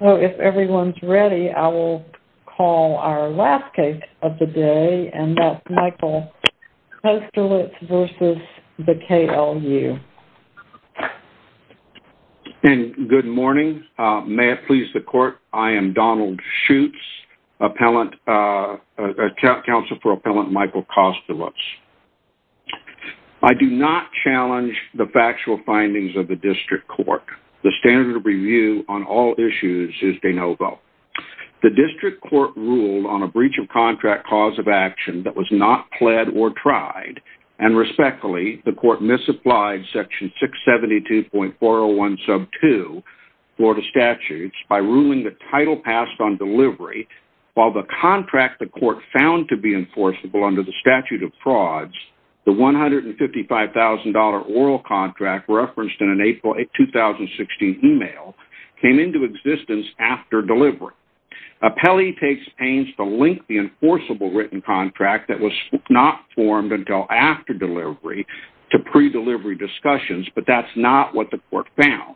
So if everyone's ready, I will call our last case of the day, and that's Michael Kosterlitz v. S.V. Knotta KLU. And good morning. May it please the Court, I am Donald Schutz, Counsel for Appellant Michael Kosterlitz. I do not challenge the factual findings of the District Court. The standard of review on all issues is de novo. The District Court ruled on a breach of contract cause of action that was not pled or tried, and respectfully, the Court misapplied section 672.401 sub 2, Florida Statutes, by ruling the title passed on delivery, while the contract the Court found to be enforceable under the statute of frauds, the $155,000 oral contract referenced in an April 2016 email, came into existence after delivery. Appellee takes pains to link the enforceable written contract that was not formed until after delivery to pre-delivery discussions, but that's not what the Court found.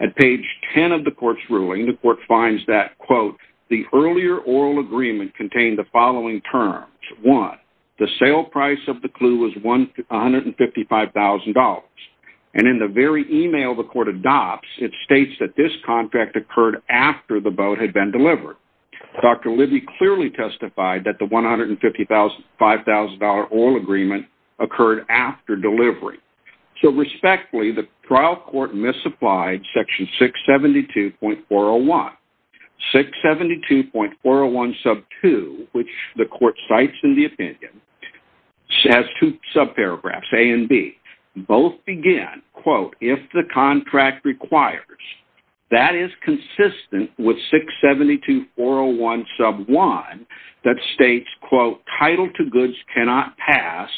At page 10 of the Court's ruling, the Court finds that, quote, the earlier oral agreement contained the following terms. One, the sale price of the KLU was $155,000, and in the very email the Court adopts, it states that this contract occurred after the boat had been delivered. Dr. Libby clearly testified that the $155,000 oral agreement occurred after delivery. So respectfully, the trial Court misapplied section 672.401. Section 672.401 sub 2, which the Court cites in the opinion, has two sub paragraphs, A and B. Both begin, quote, if the contract requires. That is consistent with 672.401 sub 1 that states, quote, title to goods cannot pass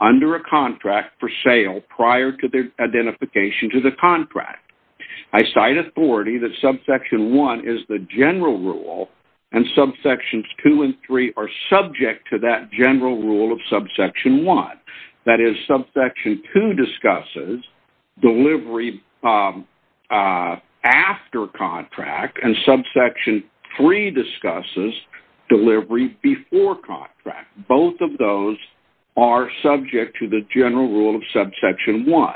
under a contract for sale prior to their identification to the contract. I cite authority that subsection 1 is the general rule, and subsections 2 and 3 are subject to that general rule of subsection 1. That is, subsection 2 discusses delivery after contract, and subsection 3 discusses delivery before contract. Both of those are subject to the general rule of subsection 1.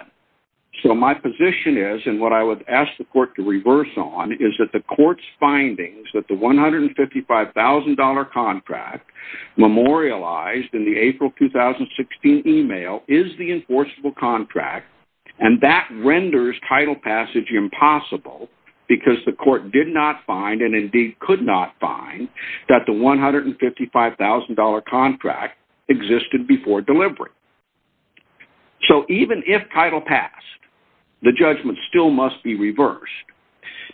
So my position is, and what I would ask the Court to reverse on, is that the Court's findings that the $155,000 contract memorialized in the April 2016 email is the enforceable contract, and that renders title passage impossible because the Court did not find, and indeed could not find, that the $155,000 contract existed before delivery. So even if title passed, the judgment still must be reversed,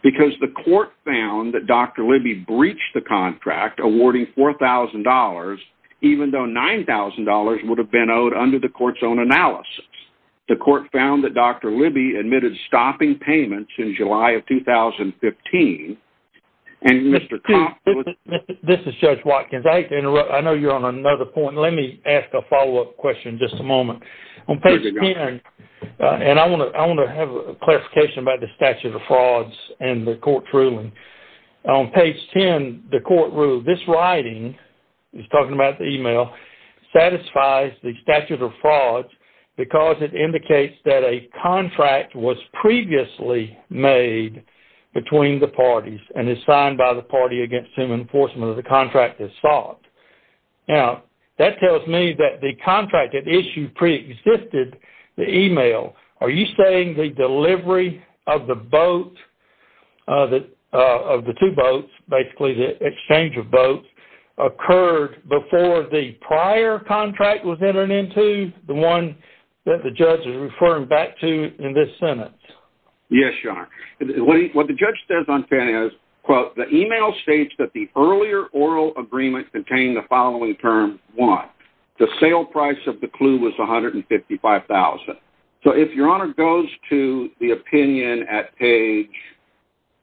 because the Court found that Dr. Libby breached the contract awarding $4,000, even though $9,000 would have been owed under the Court's own analysis. The Court found that Dr. Libby admitted stopping payments in July of 2015, and Mr. Comp... This is Judge Watkins. I know you're on another point. Let me ask a follow-up question in just a moment. On page 10, and I want to have a clarification about the statute of frauds and the Court's ruling. On page 10, the Court ruled, this writing, he's talking about the email, satisfies the statute of frauds because it indicates that a contract was previously made between the parties and is signed by the party against whom enforcement of the contract is sought. Now, that tells me that the contract that issued preexisted the email. Are you saying the delivery of the boat, of the two boats, basically the exchange of boats, occurred before the prior contract was entered into, the one that the judge is referring back to in this sentence? Yes, Your Honor. What the judge says on page 10 is, quote, the email states that the earlier oral agreement contained the following term, 1. The sale price of the clue was $155,000. So if Your Honor goes to the opinion at page,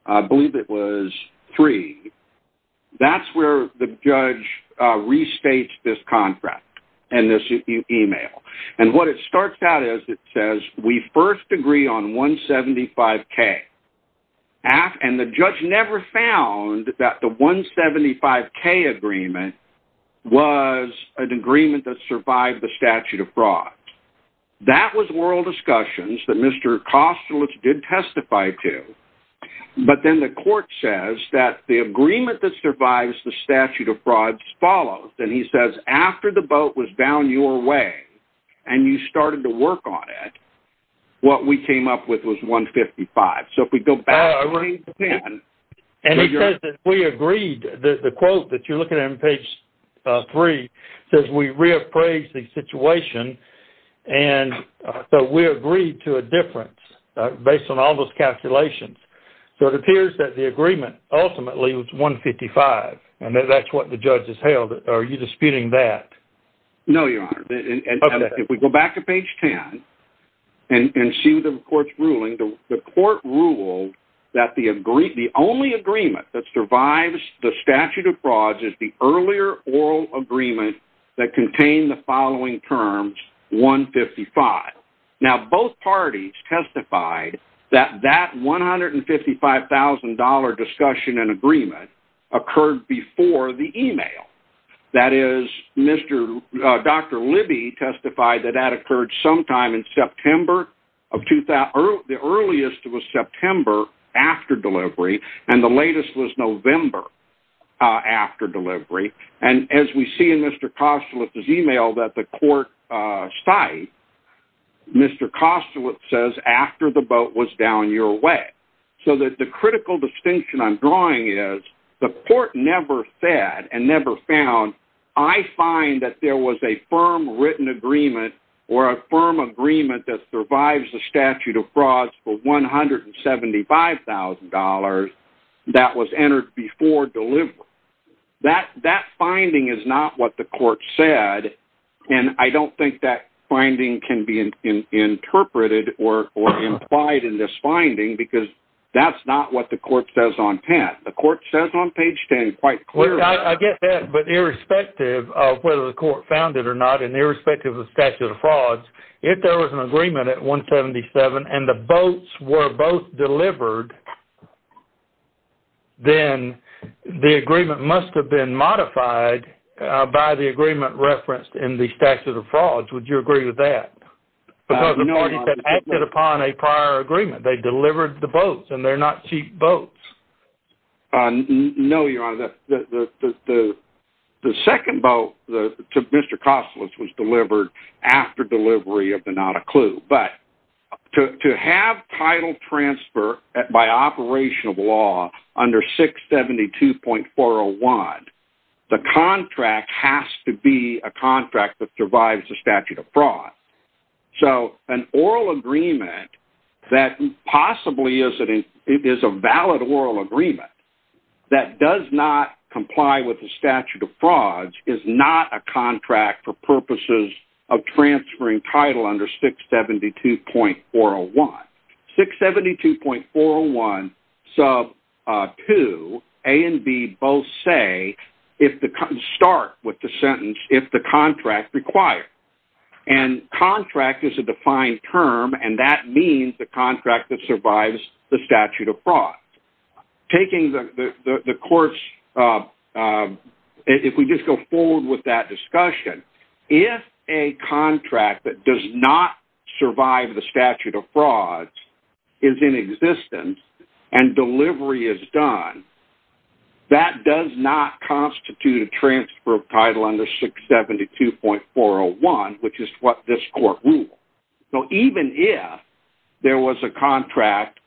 I believe it was 3, that's where the judge restates this contract and this email. And what it starts out as, it says, we first agree on $175,000. And the judge never found that the $175,000 agreement was an agreement that survived the statute of frauds. That was oral discussions that Mr. Kostelich did testify to. But then the court says that the agreement that survives the statute of frauds follows. And he says, after the boat was down your way and you started to work on it, what we came up with was $155,000. So if we go back to page 10. And he says that we agreed. The quote that you're looking at on page 3 says we reappraised the situation. And so we agreed to a difference based on all those calculations. So it appears that the agreement ultimately was $155,000. And that's what the judge has held. Are you disputing that? No, Your Honor. If we go back to page 10 and see the court's ruling, the court ruled that the only agreement that survives the statute of frauds is the earlier oral agreement that contained the following terms, $155,000. Now, both parties testified that that $155,000 discussion and agreement occurred before the email. That is, Dr. Libby testified that that occurred sometime in September of 2000. The earliest was September after delivery. And the latest was November after delivery. And as we see in Mr. Kostolich's email that the court cited, Mr. Kostolich says, after the boat was down your way. So the critical distinction I'm drawing is the court never said and never found, I find that there was a firm written agreement or a firm agreement that survives the statute of frauds for $175,000 that was entered before delivery. That finding is not what the court said. And I don't think that finding can be interpreted or implied in this finding because that's not what the court says on page 10. I get that, but irrespective of whether the court found it or not and irrespective of the statute of frauds, if there was an agreement at $177,000 and the boats were both delivered, then the agreement must have been modified by the agreement referenced in the statute of frauds. Would you agree with that? Because the parties have acted upon a prior agreement. They delivered the boats, and they're not cheap boats. No, Your Honor. The second boat to Mr. Kostolich was delivered after delivery of the Not a Clue. But to have title transfer by operation of law under 672.401, the contract has to be a contract that survives the statute of fraud. So an oral agreement that possibly is a valid oral agreement that does not comply with the statute of frauds is not a contract for purposes of transferring title under 672.401. 672.401 sub 2, A and B both say start with the sentence if the contract requires. And contract is a defined term, and that means the contract that survives the statute of fraud. Taking the court's, if we just go forward with that discussion, if a contract that does not survive the statute of frauds is in existence and delivery is done, that does not constitute a transfer of title under 672.401, which is what this court ruled. So even if there was a contract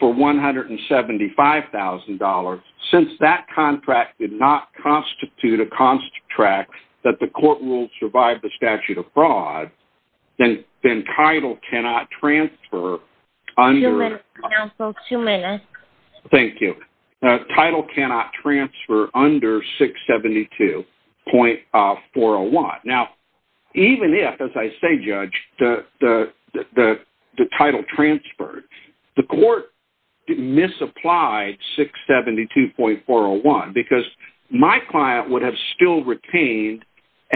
for $175,000, since that contract did not constitute a contract that the court ruled survived the statute of fraud, then title cannot transfer under- Two minutes, counsel. Two minutes. Thank you. Title cannot transfer under 672.401. Now, even if, as I say, Judge, the title transferred, the court misapplied 672.401 because my client would have still retained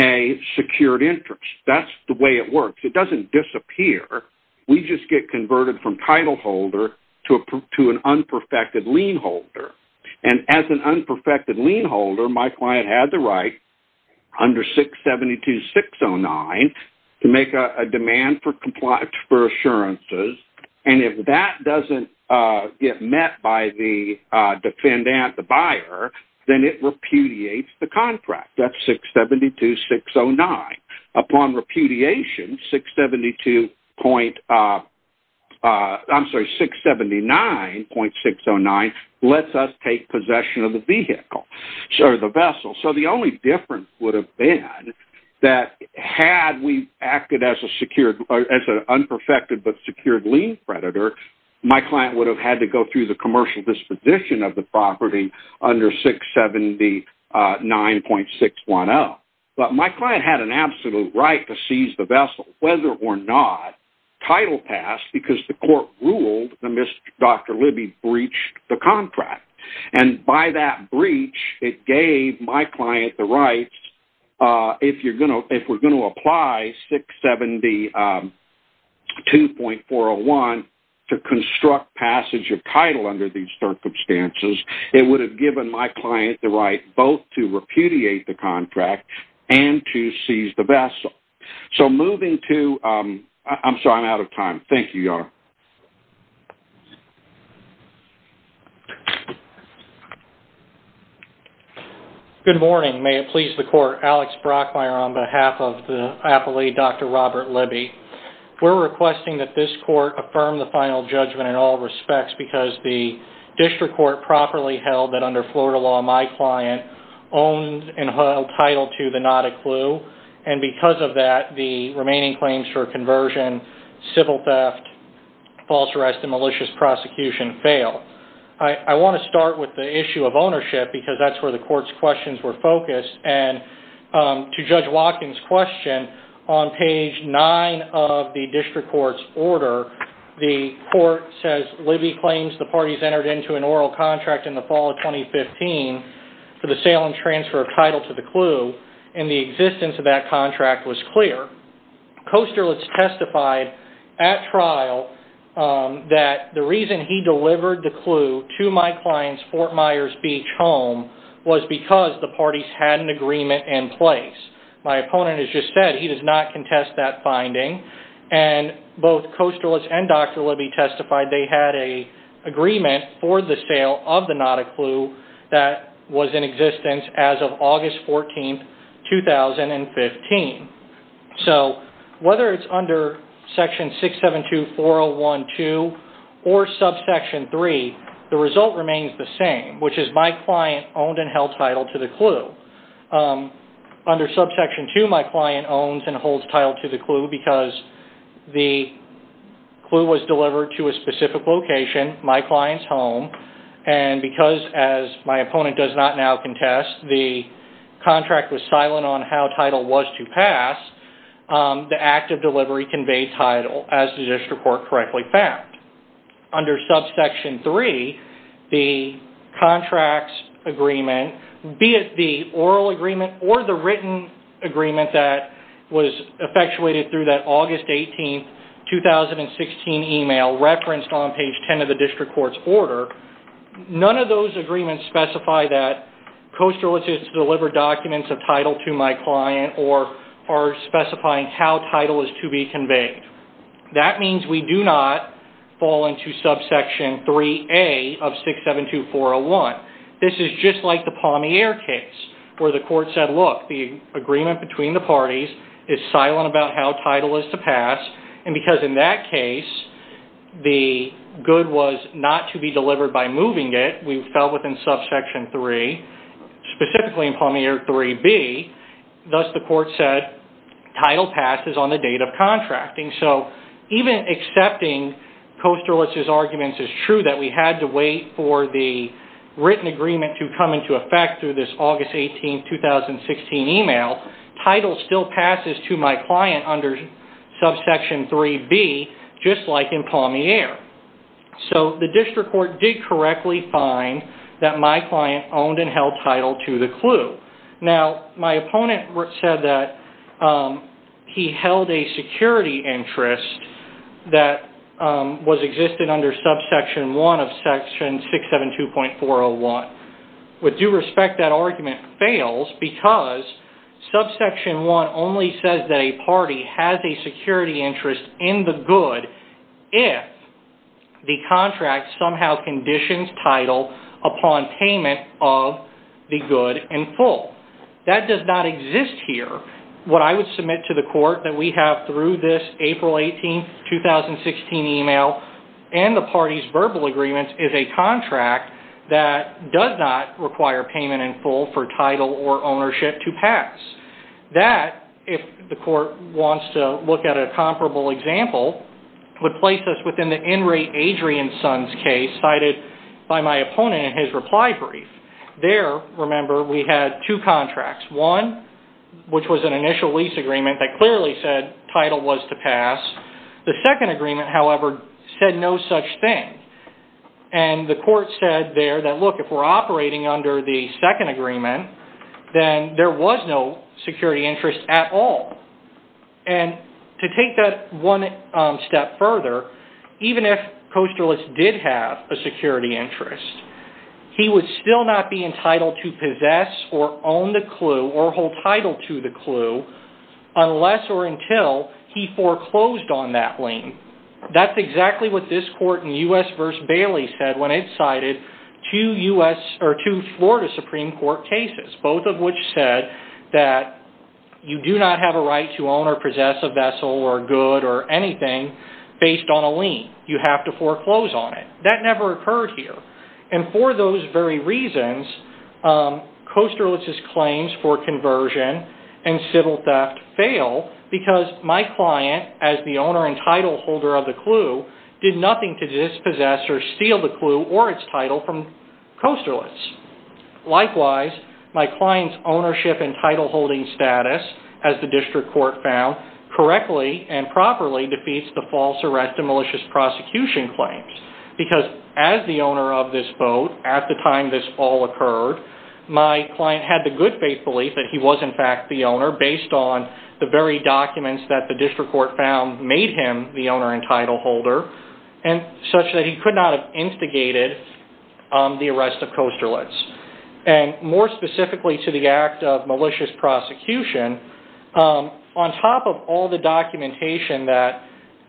a secured interest. That's the way it works. It doesn't disappear. We just get converted from title holder to an unperfected lien holder. And as an unperfected lien holder, my client had the right under 672.609 to make a demand for assurances. And if that doesn't get met by the defendant, the buyer, then it repudiates the contract. That's 672.609. Upon repudiation, 679.609 lets us take possession of the vehicle or the vessel. So the only difference would have been that had we acted as an unperfected but secured lien creditor, my client would have had to go through the commercial disposition of the property under 679.610. But my client had an absolute right to seize the vessel, whether or not title passed, because the court ruled that Dr. Libby breached the contract. And by that breach, it gave my client the rights, if we're going to apply 672.401, to construct passage of title under these circumstances. It would have given my client the right both to repudiate the contract and to seize the vessel. So moving to – I'm sorry, I'm out of time. Thank you, Your Honor. Good morning. May it please the court. Alex Brockmeyer on behalf of the appellee, Dr. Robert Libby. We're requesting that this court affirm the final judgment in all respects because the district court properly held that under Florida law, my client owned and held title to the not a clue. And because of that, the remaining claims for conversion, civil theft, false arrest, and malicious prosecution failed. I want to start with the issue of ownership because that's where the court's questions were focused. And to Judge Watkins' question, on page 9 of the district court's order, the court says Libby claims the parties entered into an oral contract in the fall of 2015 for the sale and transfer of title to the clue, and the existence of that contract was clear. Kosterlitz testified at trial that the reason he delivered the clue to my client's Fort Myers Beach home was because the parties had an agreement in place. My opponent has just said he does not contest that finding. And both Kosterlitz and Dr. Libby testified they had an agreement for the sale of the not a clue that was in existence as of August 14, 2015. So whether it's under section 672-4012 or subsection 3, the result remains the same, which is my client owned and held title to the clue. Under subsection 2, my client owns and holds title to the clue because the clue was delivered to a specific location, my client's home, and because, as my opponent does not now contest, the contract was silent on how title was to pass, the act of delivery conveyed title as the district court correctly found. Under subsection 3, the contracts agreement, be it the oral agreement or the written agreement that was effectuated through that August 18, 2016 email referenced on page 10 of the district court's order, none of those agreements specify that Kosterlitz is to deliver documents of title to my client or are specifying how title is to be conveyed. That means we do not fall into subsection 3A of 672-401. This is just like the Palmier case where the court said, look, the agreement between the parties is silent about how title is to pass, and because in that case the good was not to be delivered by moving it, we fell within subsection 3, specifically in Palmier 3B, thus the court said title passed is on the date of contracting. So even accepting Kosterlitz's arguments is true that we had to wait for the written agreement to come into effect through this August 18, 2016 email, title still passes to my client under subsection 3B, just like in Palmier. So the district court did correctly find that my client owned and held title to the clue. Now, my opponent said that he held a security interest that was existed under subsection 1 of section 672.401. With due respect, that argument fails because subsection 1 only says that a party has a security interest in the good if the contract somehow conditions title upon payment of the good in full. That does not exist here. What I would submit to the court that we have through this April 18, 2016 email and the party's verbal agreement is a contract that does not require payment in full for title or ownership to pass. That, if the court wants to look at a comparable example, would place us within the in-rate Adrian Sons case cited by my opponent in his reply brief. There, remember, we had two contracts. One, which was an initial lease agreement that clearly said title was to pass. The second agreement, however, said no such thing. And the court said there that, look, if we're operating under the second agreement, then there was no security interest at all. And to take that one step further, even if Kosterlitz did have a security interest, he would still not be entitled to possess or own the clue or hold title to the clue unless or until he foreclosed on that lien. That's exactly what this court in U.S. v. Bailey said when it cited two Florida Supreme Court cases, both of which said that you do not have a right to own or possess a vessel or good or anything based on a lien. You have to foreclose on it. That never occurred here. And for those very reasons, Kosterlitz's claims for conversion and civil theft fail because my client, as the owner and title holder of the clue, did nothing to dispossess or steal the clue or its title from Kosterlitz. Likewise, my client's ownership and title holding status, as the district court found, correctly and properly defeats the false arrest and malicious prosecution claims because as the owner of this boat at the time this all occurred, my client had the good faith belief that he was in fact the owner based on the very documents that the district court found made him the owner and title holder and such that he could not have instigated the arrest of Kosterlitz. And more specifically to the act of malicious prosecution, on top of all the documentation that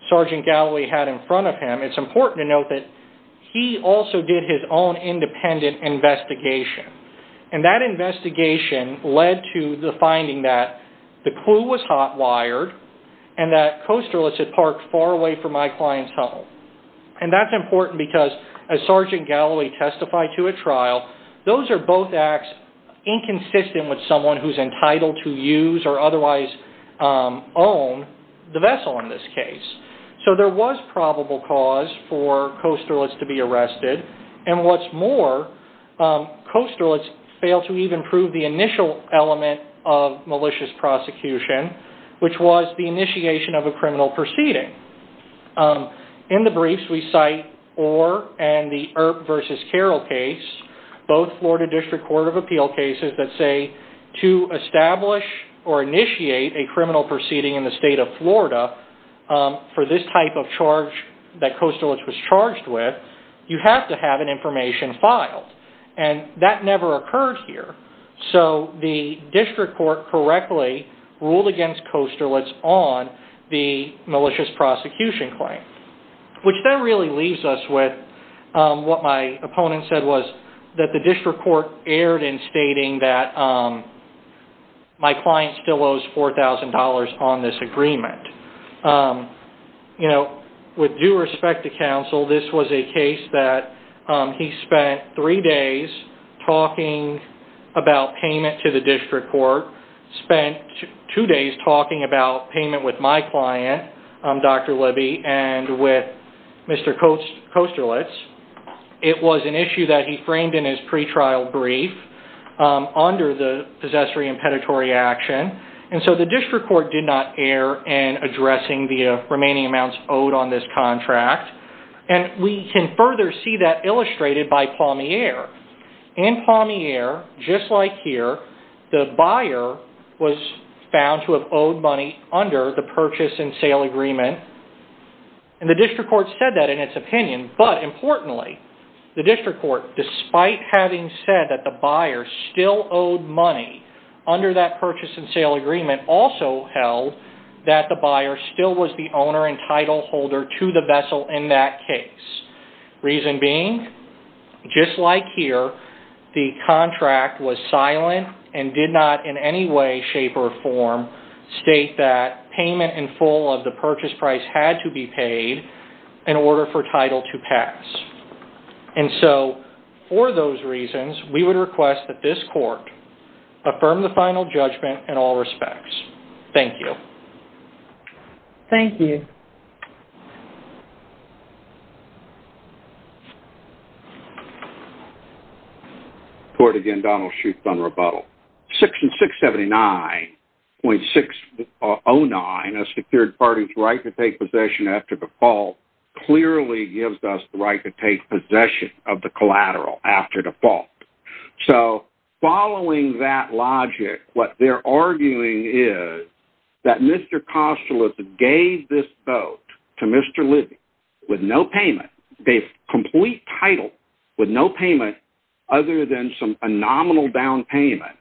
Sergeant Galloway had in front of him, it's important to note that he also did his own independent investigation. And that investigation led to the finding that the clue was hot-wired and that Kosterlitz had parked far away from my client's home. And that's important because as Sergeant Galloway testified to at trial, those are both acts inconsistent with someone who's entitled to use or otherwise own the vessel in this case. So there was probable cause for Kosterlitz to be arrested. And what's more, Kosterlitz failed to even prove the initial element of malicious prosecution, which was the initiation of a criminal proceeding. In the briefs we cite Orr and the Earp v. Carroll case, both Florida District Court of Appeal cases that say to establish or initiate a criminal proceeding in the state of Florida for this type of charge that Kosterlitz was charged with, you have to have an information filed. And that never occurred here. So the district court correctly ruled against Kosterlitz on the malicious prosecution claim. Which then really leaves us with what my opponent said was that the district court erred in stating that my client still owes $4,000 on this agreement. You know, with due respect to counsel, this was a case that he spent three days talking about payment to the district court, spent two days talking about payment with my client, Dr. Libby, and with Mr. Kosterlitz. It was an issue that he framed in his pre-trial brief under the possessory impeditory action. And so the district court did not err in addressing the remaining amounts owed on this contract. And we can further see that illustrated by Palmier. In Palmier, just like here, the buyer was found to have owed money under the purchase and sale agreement. And the district court said that in its opinion. But importantly, the district court, despite having said that the buyer still owed money under that purchase and sale agreement, also held that the buyer still was the owner and title holder to the vessel in that case. Reason being, just like here, the contract was silent and did not in any way, shape, or form state that payment in full of the purchase price had to be paid in order for title to pass. And so, for those reasons, we would request that this court affirm the final judgment in all respects. Thank you. Thank you. Court, again, Donald Shute on rebuttal. Section 679.609, a secured party's right to take possession after default, clearly gives us the right to take possession of the collateral after default. So, following that logic, what they're arguing is that Mr. Kostelov gave this boat to Mr. Libby with no payment. They have complete title with no payment other than a nominal down payment,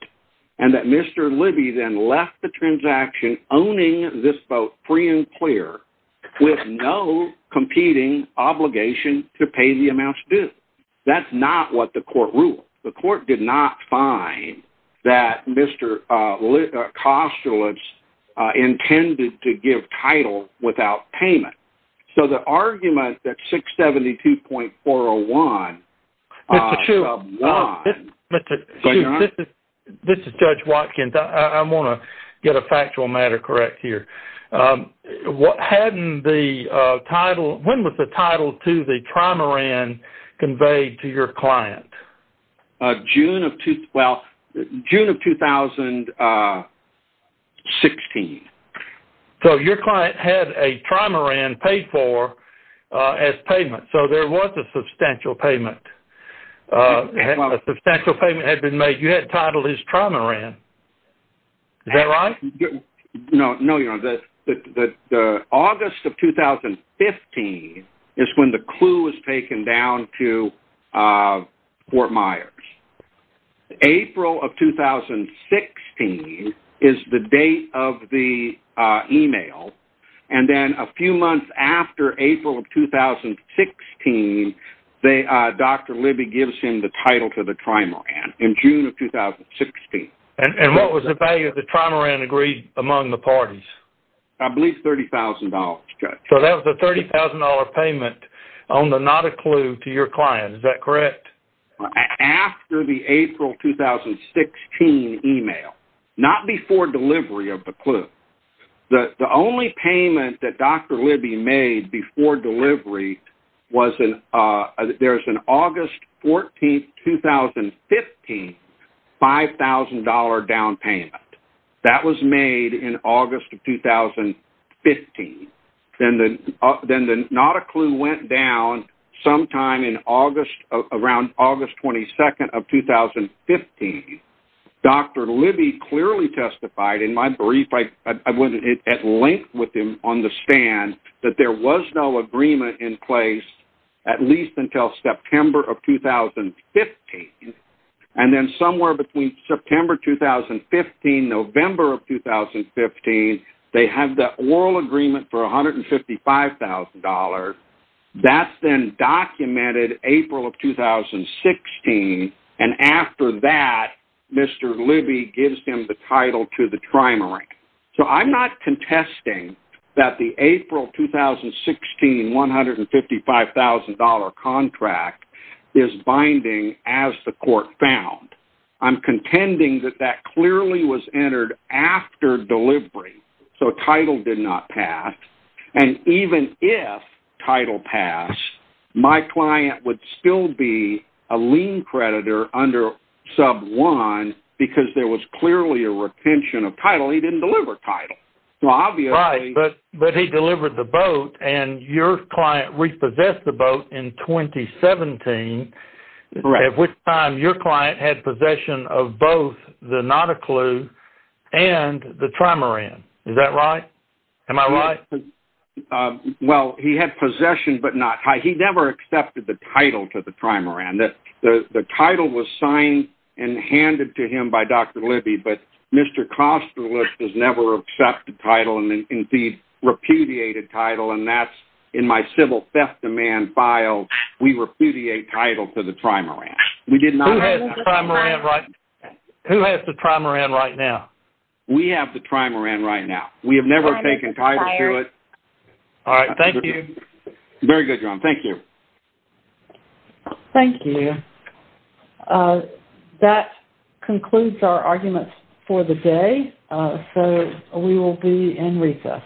and that Mr. Libby then left the transaction owning this boat free and clear with no competing obligation to pay the amounts due. That's not what the court ruled. The court did not find that Mr. Kostelov intended to give title without payment. So, the argument that 672.401... Mr. Shute, this is Judge Watkins. I want to get a factual matter correct here. When was the title to the trimaran conveyed to your client? June of 2016. So, your client had a trimaran paid for as payment. So, there was a substantial payment. A substantial payment had been made. You had titled his trimaran. Is that right? No, Your Honor. The August of 2015 is when the clue was taken down to Fort Myers. April of 2016 is the date of the email. And then a few months after April of 2016, Dr. Libby gives him the title to the trimaran in June of 2016. And what was the value of the trimaran agreed among the parties? I believe $30,000, Judge. So, that was a $30,000 payment on the not a clue to your client. Is that correct? After the April 2016 email, not before delivery of the clue. The only payment that Dr. Libby made before delivery was there was an August 14, 2015 $5,000 down payment. That was made in August of 2015. Then the not a clue went down sometime in August, around August 22 of 2015. Dr. Libby clearly testified in my brief, I went at length with him on the stand, that there was no agreement in place at least until September of 2015. And then somewhere between September 2015, November of 2015, they have the oral agreement for $155,000. That's then documented April of 2016. And after that, Mr. Libby gives him the title to the trimaran. So, I'm not contesting that the April 2016 $155,000 contract is binding as the court found. I'm contending that that clearly was entered after delivery, so title did not pass. And even if title passed, my client would still be a lien creditor under sub one because there was clearly a retention of title. He didn't deliver title. Right, but he delivered the boat, and your client repossessed the boat in 2017, at which time your client had possession of both the Nauticlu and the trimaran. Is that right? Am I right? Well, he had possession but not title. He never accepted the title to the trimaran. The title was signed and handed to him by Dr. Libby, but Mr. Kosterlitz has never accepted title, and indeed repudiated title, and that's in my civil theft demand file. We repudiate title to the trimaran. Who has the trimaran right now? We have the trimaran right now. We have never taken title to it. All right. Thank you. Very good, John. Thank you. Thank you. That concludes our arguments for the day, so we will be in recess.